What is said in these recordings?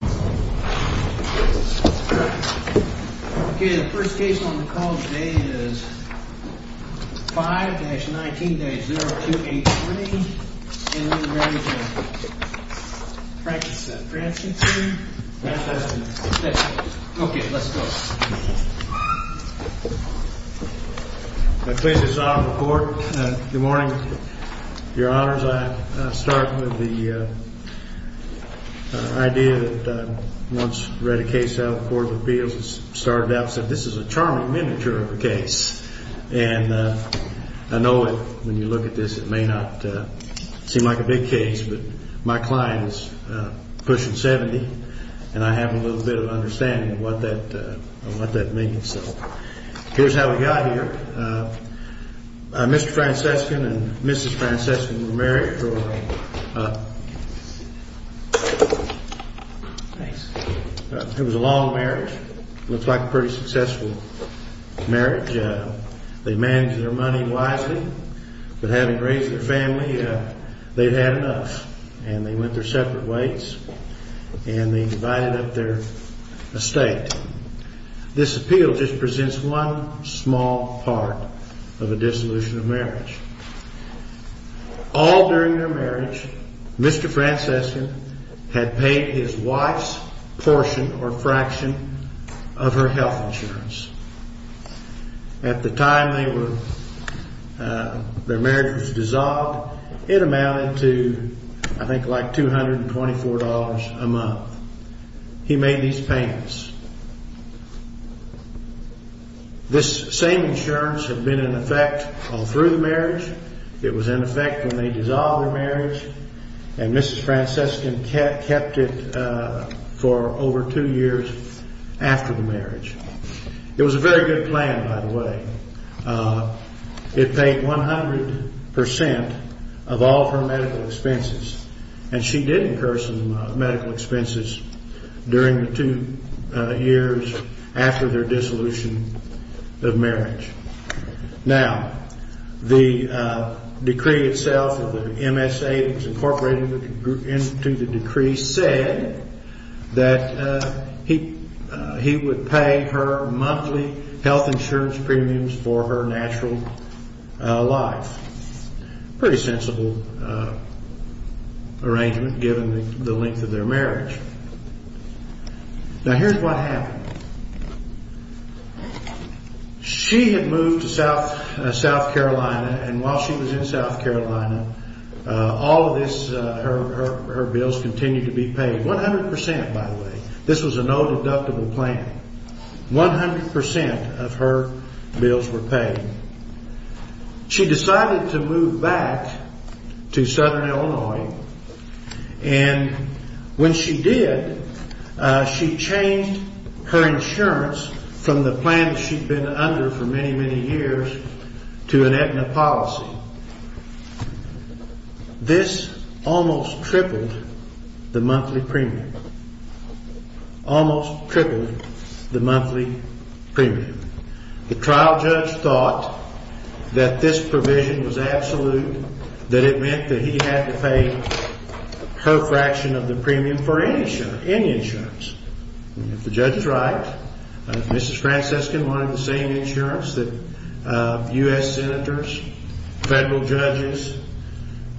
Okay let's go. I'm pleased to sign the report. Good morning, your honors. I'll start with the idea that once I read a case out of the Court of Appeals and started out and said this is a charming miniature of a case and I know when you look at this it may not seem like a big case but my client is pushing 70 and I have a little bit of understanding what that means so here's how we got here. Mr. Francescon and Mrs. Francescon were married for a long marriage. It looks like a pretty successful marriage. They managed their money wisely but having raised their family they had had enough and they went their separate ways and they divided up their estate. This appeal just presents one small part of a dissolution of marriage. All during their marriage Mrs. Francescon and Mr. Francescon were married for a long time. Mr. Francescon had paid his wife's portion or fraction of her health insurance. At the time their marriage was dissolved it amounted to I think like $224 a month. He made these payments. This same insurance had been in effect all through the marriage. It was in effect when they dissolved their marriage and Mrs. Francescon kept it for over two years after the marriage. It was a very good plan by the way. It paid 100% of all of her medical expenses and she did incur some medical expenses during the two years. After their dissolution of marriage. Now the decree itself of the MSA incorporated into the decree said that he would pay her monthly health insurance premiums for her natural life. Pretty sensible arrangement given the length of their marriage. Now here's what happened. She had moved to South Carolina and while she was in South Carolina all of her bills continued to be paid. 100% by the way. This was a no deductible plan. 100% of her bills were paid. She decided to move back to Southern Illinois and when she did she changed her insurance from the plan she'd been under for many, many years to an Aetna policy. Now this almost tripled the monthly premium. Almost tripled the monthly premium. The trial judge thought that this provision was absolute, that it meant that he had to pay a co-fraction of the premium for any insurance. If the judge is right, Mrs. Francescan wanted the same insurance that U.S. Senators, federal judges,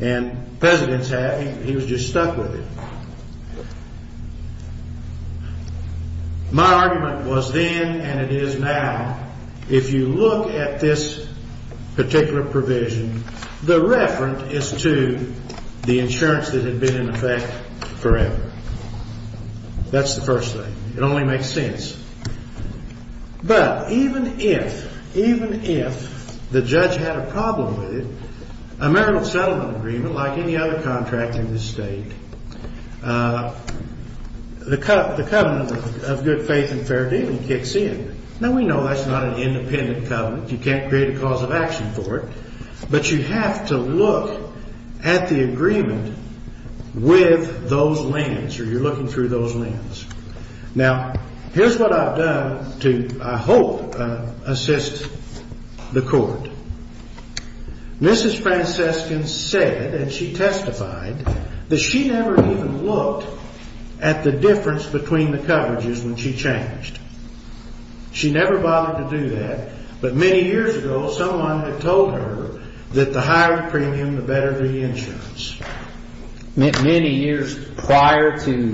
and presidents have. He was just stuck with it. My argument was then and it is now, if you look at this particular provision, the referent is to the insurance that had been in effect forever. That's the first thing. It only makes sense. But even if the judge had a problem with it, a marital settlement agreement like any other contract in this state, the covenant of good faith and fair dealing kicks in. Now we know that's not an independent covenant. You can't create a cause of action for it. But you have to look at the agreement with those lands or you're looking through those lands. Now here's what I've done to, I hope, assist the court. Mrs. Francescan said, and she testified, that she never even looked at the difference between the coverages when she changed. She never bothered to do that. But many years ago, someone had told her that the higher the premium, the better the insurance. Many years prior to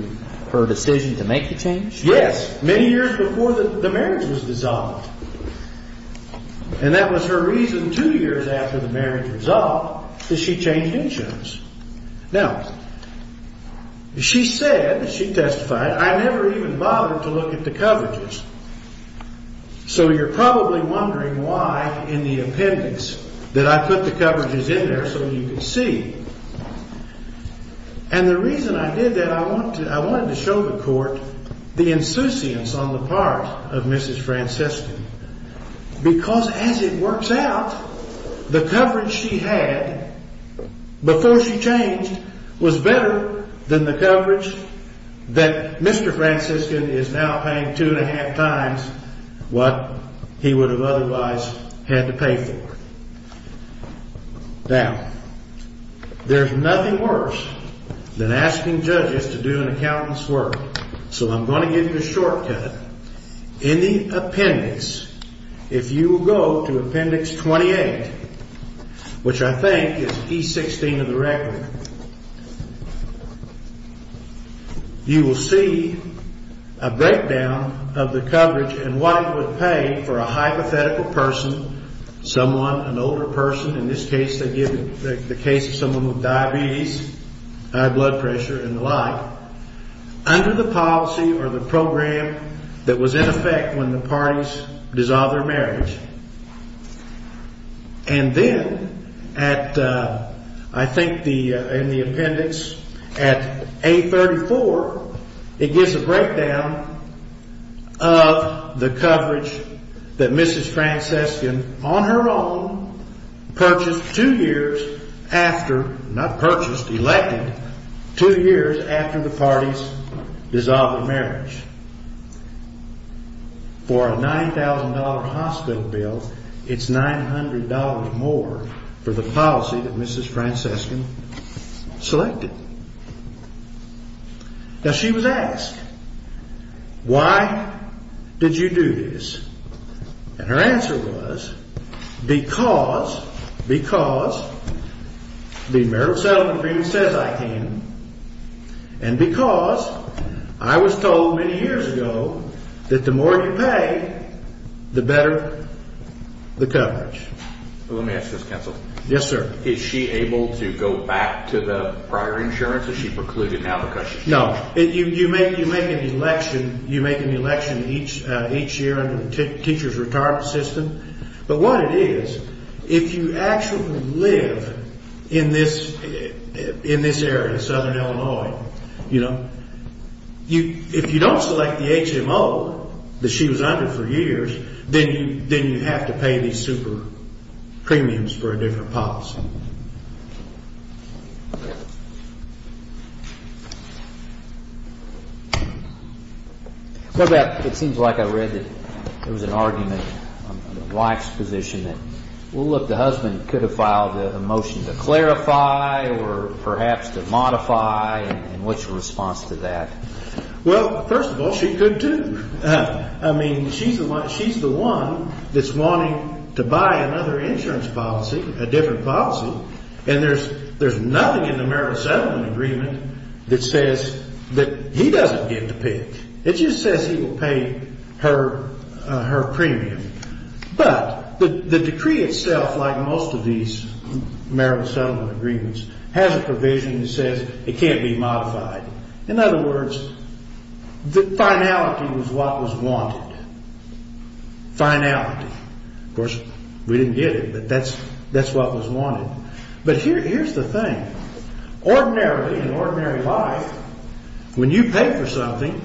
her decision to make the change? Yes, many years before the marriage was dissolved. And that was her reason, two years after the marriage was dissolved, that she changed insurance. Now, she said, she testified, I never even bothered to look at the coverages. So you're probably wondering why in the appendix that I put the coverages in there so you could see. And the reason I did that, I wanted to show the court the insouciance on the part of Mrs. Francescan. Because as it works out, the coverage she had before she changed was better than the coverage that Mr. Francescan is now paying two and a half times what he would have otherwise had to pay for. Now, there's nothing worse than asking judges to do an accountant's work. So I'm going to give you a shortcut. In the appendix, if you go to appendix 28, which I think is E16 of the record, you will see a breakdown of the coverage and what he would pay for a hypothetical person, someone, an older person. In this case, they give the case of someone with diabetes, high blood pressure, and the like, under the policy or the program that was in effect when the parties dissolved their marriage. And then, I think in the appendix at A34, it gives a breakdown of the coverage that Mrs. Francescan, on her own, purchased two years after, not purchased, elected, two years after the parties dissolved their marriage. For a $9,000 hospital bill, it's $900 more for the policy that Mrs. Francescan selected. Now, she was asked, why did you do this? And her answer was, because the marriage settlement agreement says I can, and because I was told many years ago that the more you pay, the better the coverage. Let me ask you this, counsel. Yes, sir. Is she able to go back to the prior insurance? Is she precluded now because she's not? No. You make an election each year under the teacher's retirement system. But what it is, if you actually live in this area, southern Illinois, if you don't select the HMO that she was under for years, then you have to pay these super premiums for a different policy. It seems like I read that there was an argument on the wife's position that, well, look, the husband could have filed a motion to clarify or perhaps to modify, and what's your response to that? Well, first of all, she could too. I mean, she's the one that's wanting to buy another insurance policy, a different policy, and there's nothing in the marriage settlement agreement that says that he doesn't get to pay it. It just says he will pay her premium. But the decree itself, like most of these marriage settlement agreements, has a provision that says it can't be modified. In other words, the finality was what was wanted. Finality. Of course, we didn't get it, but that's what was wanted. But here's the thing. Ordinarily, in ordinary life, when you pay for something,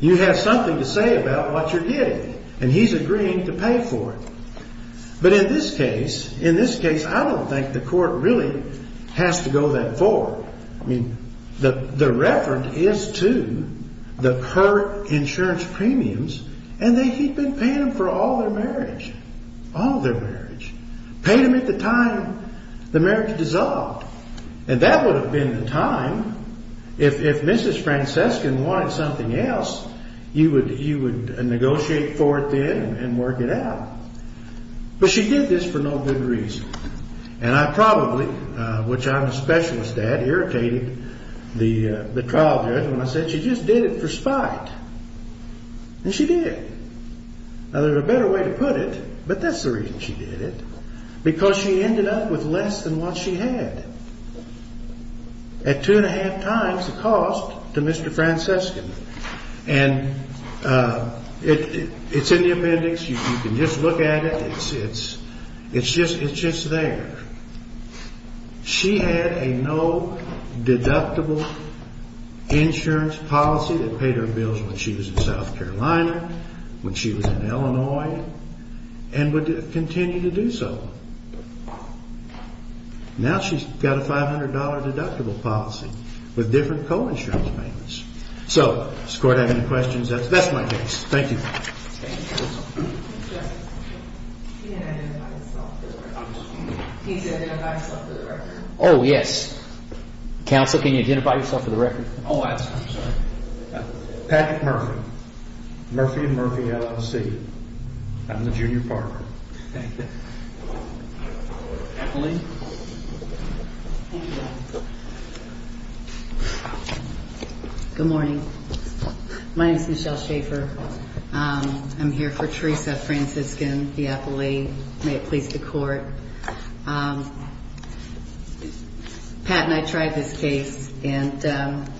you have something to say about what you're getting, and he's agreeing to pay for it. But in this case, I don't think the court really has to go that far. I mean, the reference is to the per-insurance premiums, and he'd been paying them for all their marriage. All their marriage. Paid them at the time the marriage dissolved. And that would have been the time, if Mrs. Francescan wanted something else, you would negotiate for it then and work it out. But she did this for no good reason. And I probably, which I'm a specialist at, irritated the trial judge when I said she just did it for spite. And she did. Now, there's a better way to put it, but that's the reason she did it. Because she ended up with less than what she had. At two and a half times the cost to Mr. Francescan. And it's in the appendix. You can just look at it. It's just there. She had a no-deductible insurance policy that paid her bills when she was in South Carolina, when she was in Illinois, and would continue to do so. Now she's got a $500 deductible policy with different co-insurance payments. So, does the court have any questions? That's my case. Thank you. Can you identify yourself for the record? Oh, yes. Counsel, can you identify yourself for the record? Oh, I'm sorry. Patrick Murphy. Murphy and Murphy LLC. I'm the junior partner. Thank you. Emily. Thank you. Good morning. My name is Michelle Schaefer. I'm here for Teresa Francescan, the appellee. May it please the court. Pat and I tried this case, and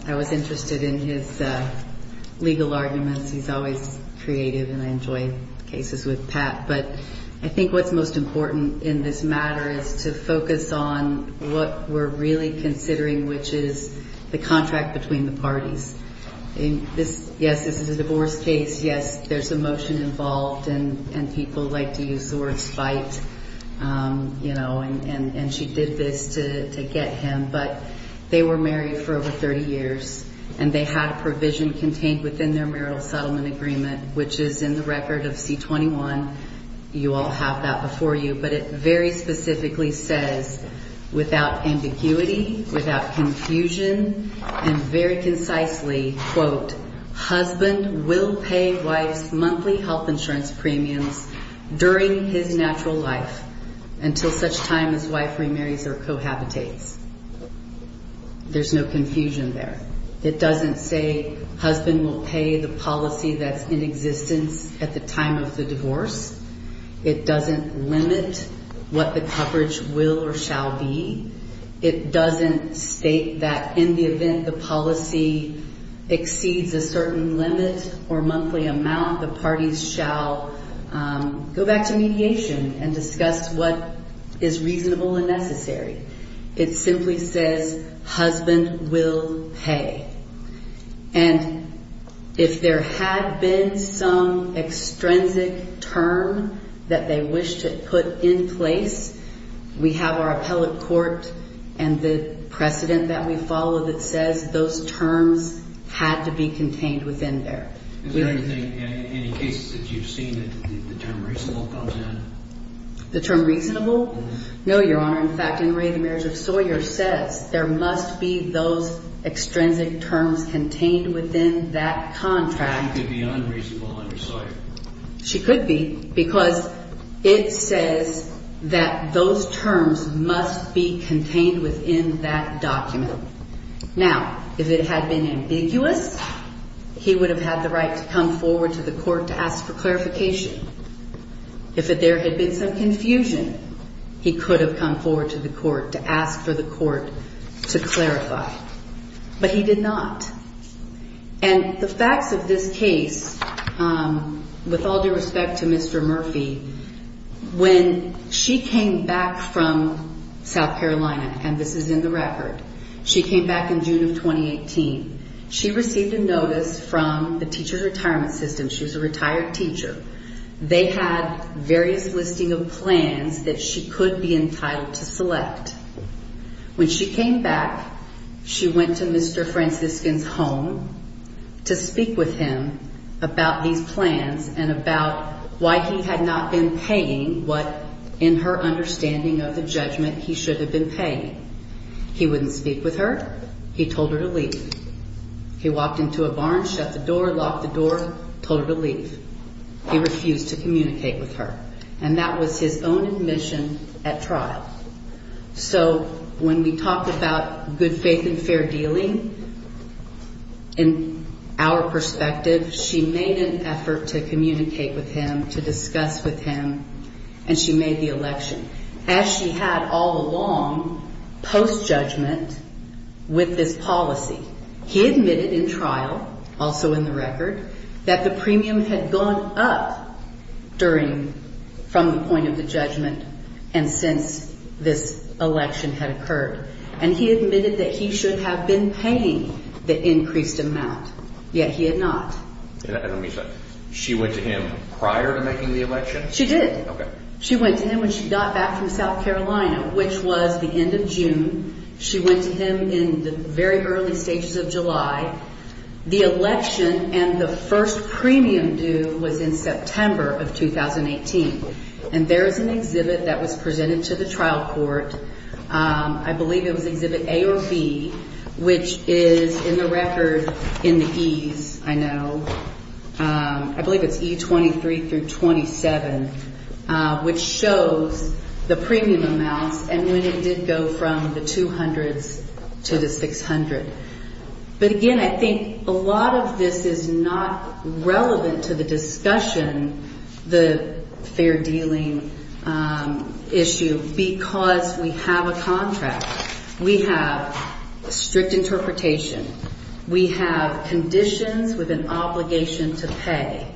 I was interested in his legal arguments. He's always creative, and I enjoy cases with Pat. But I think what's most important in this matter is to focus on what we're really considering, which is the contract between the parties. Yes, this is a divorce case. Yes, there's emotion involved, and people like to use the word spite. And she did this to get him. But they were married for over 30 years, and they had a provision contained within their marital settlement agreement, which is in the record of C-21. You all have that before you. But it very specifically says, without ambiguity, without confusion, and very concisely, quote, husband will pay wife's monthly health insurance premiums during his natural life until such time as wife remarries or cohabitates. There's no confusion there. It doesn't say husband will pay the policy that's in existence at the time of the divorce. It doesn't limit what the coverage will or shall be. It doesn't state that in the event the policy exceeds a certain limit or monthly amount, the parties shall go back to mediation and discuss what is reasonable and necessary. It simply says husband will pay. And if there had been some extrinsic term that they wish to put in place, we have our appellate court and the precedent that we follow that says those terms had to be contained within there. Is there anything in any cases that you've seen that the term reasonable comes in? The term reasonable? No, Your Honor. In fact, in Ray, the marriage of Sawyer says there must be those extrinsic terms contained within that contract. She could be unreasonable under Sawyer. She could be because it says that those terms must be contained within that document. Now, if it had been ambiguous, he would have had the right to come forward to the court to ask for clarification. If there had been some confusion, he could have come forward to the court to ask for the court to clarify. But he did not. And the facts of this case, with all due respect to Mr. Murphy, when she came back from South Carolina, and this is in the record, she came back in June of 2018. She received a notice from the teacher's retirement system. She was a retired teacher. They had various listing of plans that she could be entitled to select. When she came back, she went to Mr. Franciscan's home to speak with him about these plans and about why he had not been paying what, in her understanding of the judgment, he should have been paying. He wouldn't speak with her. He told her to leave. He walked into a barn, shut the door, locked the door, told her to leave. He refused to communicate with her. And that was his own admission at trial. So when we talked about good faith and fair dealing, in our perspective, she made an effort to communicate with him, to discuss with him, and she made the election. As she had all along, post-judgment, with this policy. He admitted in trial, also in the record, that the premium had gone up during, from the point of the judgment, and since this election had occurred. And he admitted that he should have been paying the increased amount. Yet he had not. She went to him prior to making the election? She did. Okay. She went to him when she got back from South Carolina, which was the end of June. She went to him in the very early stages of July. The election and the first premium due was in September of 2018. And there is an exhibit that was presented to the trial court. I believe it was exhibit A or B, which is in the record in the E's, I know. I believe it's E23 through 27, which shows the premium amounts and when it did go from the 200s to the 600. But again, I think a lot of this is not relevant to the discussion, the fair dealing issue, because we have a contract. We have strict interpretation. We have conditions with an obligation to pay.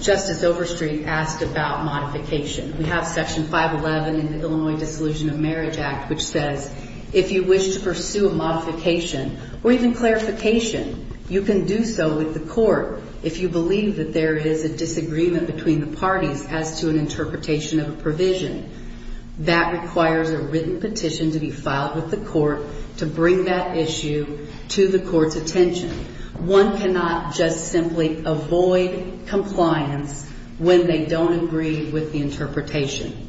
Justice Overstreet asked about modification. We have Section 511 in the Illinois Dissolution of Marriage Act, which says if you wish to pursue a modification or even clarification, you can do so with the court if you believe that there is a disagreement between the parties as to an interpretation of a provision. That requires a written petition to be filed with the court to bring that issue to the court's attention. One cannot just simply avoid compliance when they don't agree with the interpretation.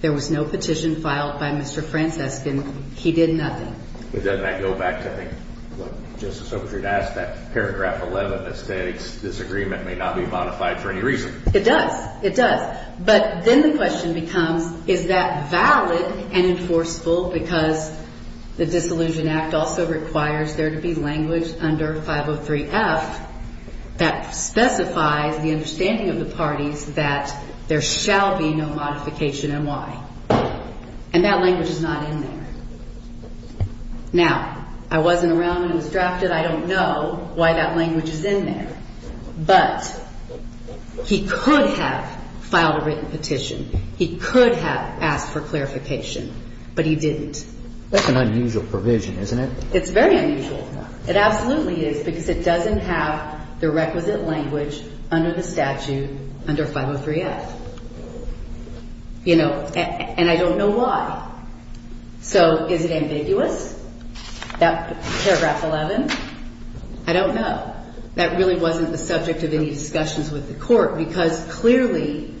There was no petition filed by Mr. Francescan. He did nothing. But doesn't that go back to, I think, what Justice Overstreet asked, that paragraph 11 that states disagreement may not be modified for any reason? It does. It does. But then the question becomes, is that valid and enforceable because the Dissolution Act also requires there to be language under 503F that specifies the understanding of the parties that there shall be no modification and why. And that language is not in there. Now, I wasn't around when it was drafted. I don't know why that language is in there. But he could have filed a written petition. He could have asked for clarification. But he didn't. That's an unusual provision, isn't it? It's very unusual. It absolutely is because it doesn't have the requisite language under the statute under 503F. You know, and I don't know why. So is it ambiguous, that paragraph 11? I don't know. But that really wasn't the subject of any discussions with the Court because, clearly,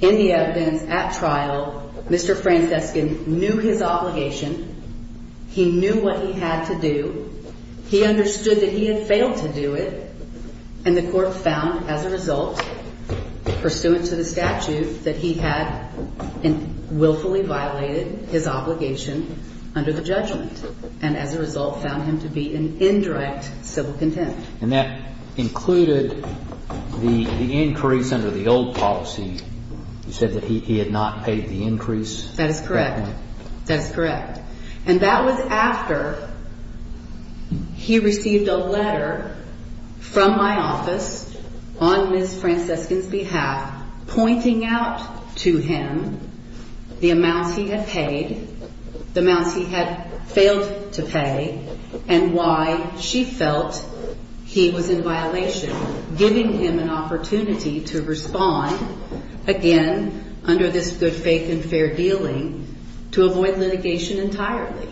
in the evidence at trial, Mr. Francescan knew his obligation. He knew what he had to do. He understood that he had failed to do it. And the Court found, as a result, pursuant to the statute, that he had willfully violated his obligation under the judgment. And, as a result, found him to be in indirect civil contempt. And that included the increase under the old policy. You said that he had not paid the increase? That is correct. That is correct. And that was after he received a letter from my office on Ms. Francescan's behalf pointing out to him the amounts he had paid, the amounts he had failed to pay, and why she felt he was in violation, giving him an opportunity to respond, again, under this good faith and fair dealing, to avoid litigation entirely.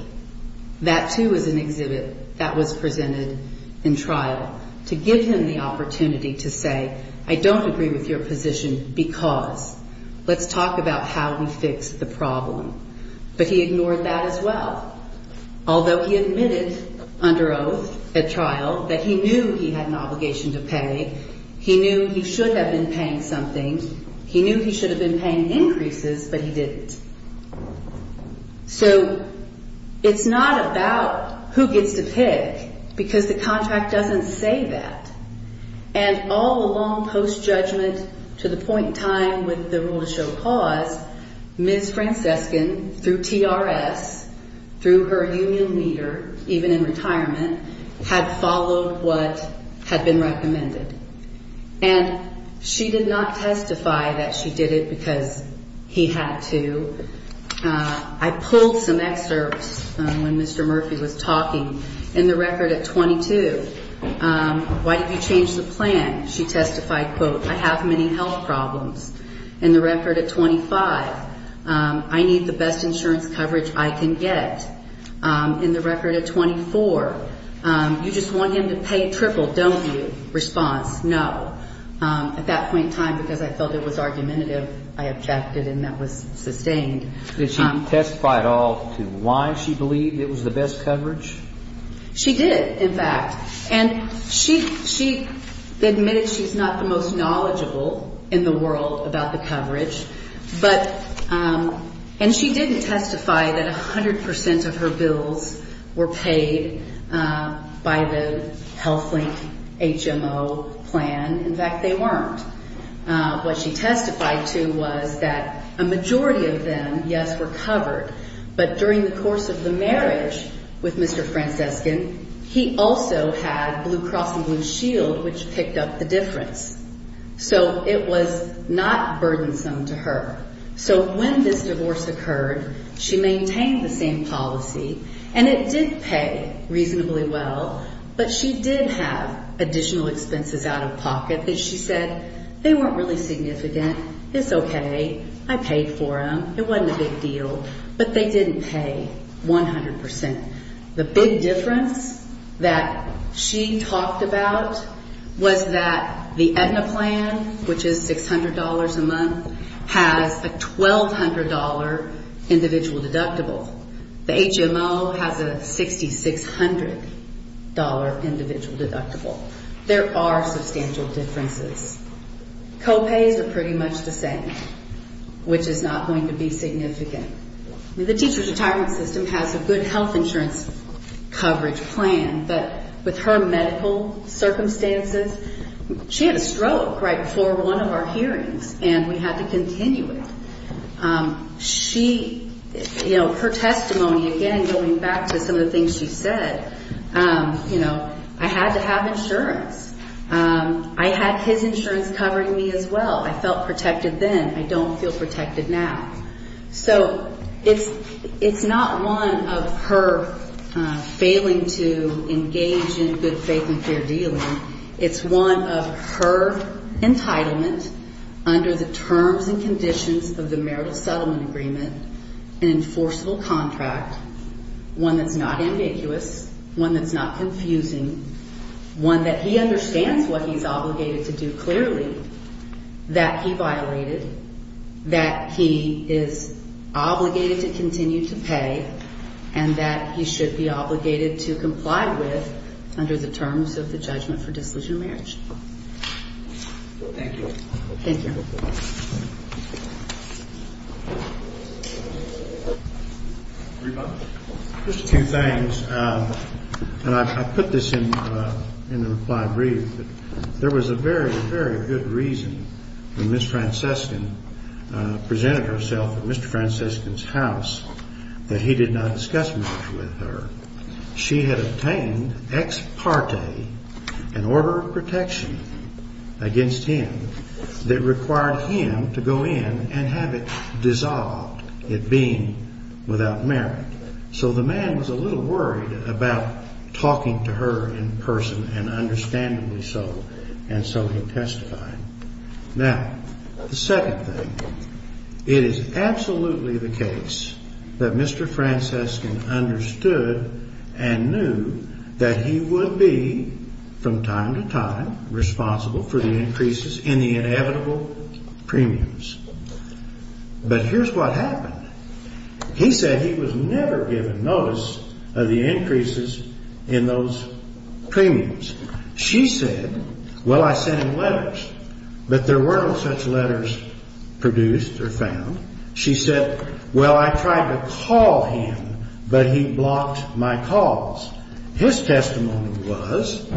That, too, was an exhibit that was presented in trial, to give him the opportunity to say, I don't agree with your position because. Let's talk about how we fix the problem. But he ignored that as well. Although he admitted under oath at trial that he knew he had an obligation to pay. He knew he should have been paying something. He knew he should have been paying increases, but he didn't. So it's not about who gets to pick because the contract doesn't say that. And all along post-judgment, to the point in time with the rule to show cause, Ms. Francescan, through TRS, through her union leader, even in retirement, had followed what had been recommended. And she did not testify that she did it because he had to. I pulled some excerpts when Mr. Murphy was talking in the record at 22. Why did you change the plan? She testified, quote, I have many health problems. In the record at 25, I need the best insurance coverage I can get. In the record at 24, you just want him to pay triple, don't you? Response, no. At that point in time, because I felt it was argumentative, I objected and that was sustained. Did she testify at all to why she believed it was the best coverage? She did, in fact. And she admitted she's not the most knowledgeable in the world about the coverage. And she didn't testify that 100 percent of her bills were paid by the HealthLink HMO plan. In fact, they weren't. What she testified to was that a majority of them, yes, were covered. But during the course of the marriage with Mr. Francescan, he also had Blue Cross and Blue Shield, which picked up the difference. So it was not burdensome to her. So when this divorce occurred, she maintained the same policy, and it did pay reasonably well. But she did have additional expenses out of pocket that she said, they weren't really significant. It's okay. I paid for them. It wasn't a big deal. But they didn't pay 100 percent. The big difference that she talked about was that the Aetna plan, which is $600 a month, has a $1,200 individual deductible. The HMO has a $6,600 individual deductible. There are substantial differences. Co-pays are pretty much the same, which is not going to be significant. The teacher's retirement system has a good health insurance coverage plan. But with her medical circumstances, she had a stroke right before one of our hearings, and we had to continue it. Her testimony, again, going back to some of the things she said, I had to have insurance. I had his insurance covering me as well. I felt protected then. I don't feel protected now. So it's not one of her failing to engage in good faith and fair dealing. It's one of her entitlement under the terms and conditions of the marital settlement agreement, an enforceable contract, one that's not ambiguous, one that's not confusing, one that he understands what he's obligated to do clearly, that he violated, that he is obligated to continue to pay, and that he should be obligated to comply with under the terms of the judgment for disillusioned marriage. Thank you. Thank you. Just two things, and I put this in the reply brief. There was a very, very good reason when Ms. Francescan presented herself at Mr. Francescan's house that he did not discuss much with her. She had obtained ex parte an order of protection against him that required him to go in and have it dissolved, it being without merit. So the man was a little worried about talking to her in person, and understandably so, and so he testified. Now, the second thing. It is absolutely the case that Mr. Francescan understood and knew that he would be, from time to time, responsible for the increases in the inevitable premiums. But here's what happened. He said he was never given notice of the increases in those premiums. She said, well, I sent him letters, but there weren't such letters produced or found. She said, well, I tried to call him, but he blocked my calls. His testimony was,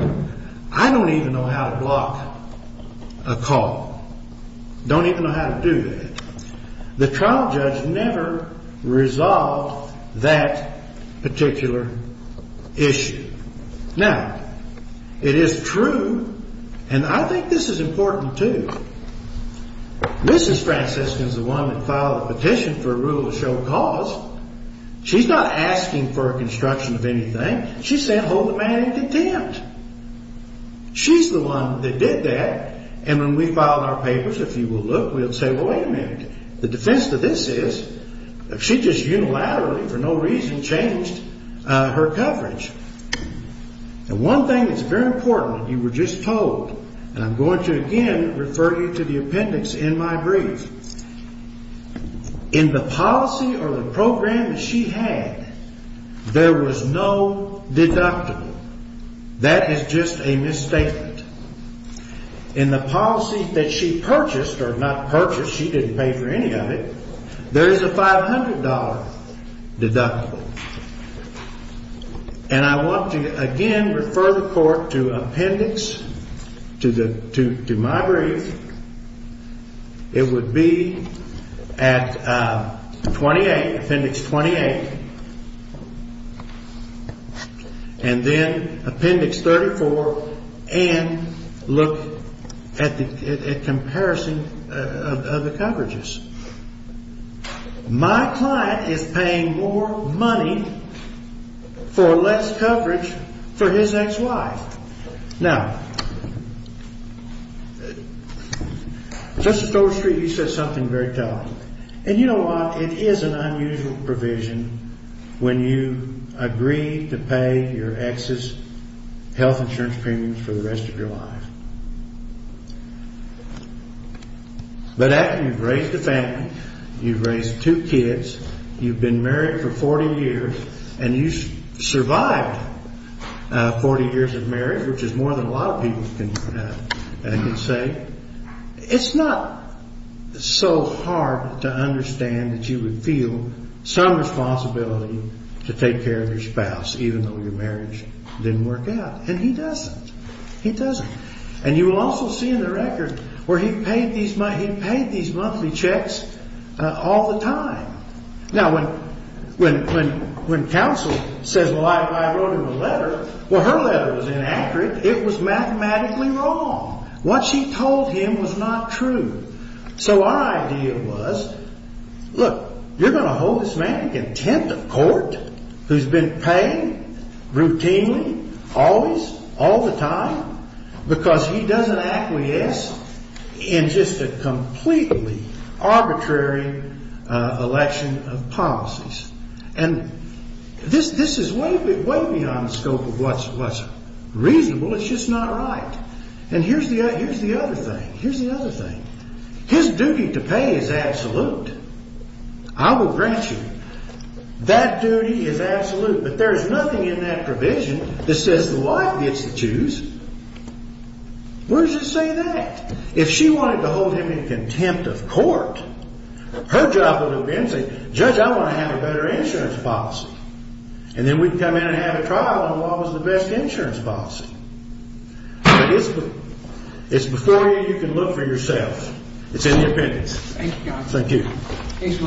I don't even know how to block a call. Don't even know how to do that. The trial judge never resolved that particular issue. Now, it is true, and I think this is important, too. Mrs. Francescan is the one that filed the petition for a rule of show cause. She's not asking for a construction of anything. She's saying hold the man in contempt. She's the one that did that, and when we filed our papers, if you will look, we would say, well, wait a minute. The defense to this is she just unilaterally, for no reason, changed her coverage. And one thing that's very important that you were just told, and I'm going to again refer you to the appendix in my brief. In the policy or the program that she had, there was no deductible. That is just a misstatement. In the policy that she purchased, or not purchased, she didn't pay for any of it, there is a $500 deductible. And I want to again refer the court to appendix, to my brief. It would be at 28, appendix 28, and then appendix 34, and look at the comparison of the coverages. My client is paying more money for less coverage for his ex-wife. Now, Justice Goldstreet, you said something very telling. And you know what? It is an unusual provision when you agree to pay your ex's health insurance premiums for the rest of your life. But after you've raised a family, you've raised two kids, you've been married for 40 years, and you've survived 40 years of marriage, which is more than a lot of people can say, it's not so hard to understand that you would feel some responsibility to take care of your spouse, even though your marriage didn't work out. And he doesn't. He doesn't. And you will also see in the record where he paid these monthly checks all the time. Now, when counsel says, well, I wrote him a letter, well, her letter was inaccurate. It was mathematically wrong. What she told him was not true. So our idea was, look, you're going to hold this man content of court who's been paying routinely, always, all the time, because he doesn't acquiesce in just a completely arbitrary election of policies. And this is way beyond the scope of what's reasonable. It's just not right. And here's the other thing. Here's the other thing. His duty to pay is absolute. I will grant you that duty is absolute. But there's nothing in that provision that says the wife gets to choose. Where does it say that? If she wanted to hold him in contempt of court, her job would have been to say, judge, I want to have a better insurance policy. And then we can come in and have a trial on what was the best insurance policy. But it's before you. You can look for yourselves. It's in the appendix. Thank you. Thank you.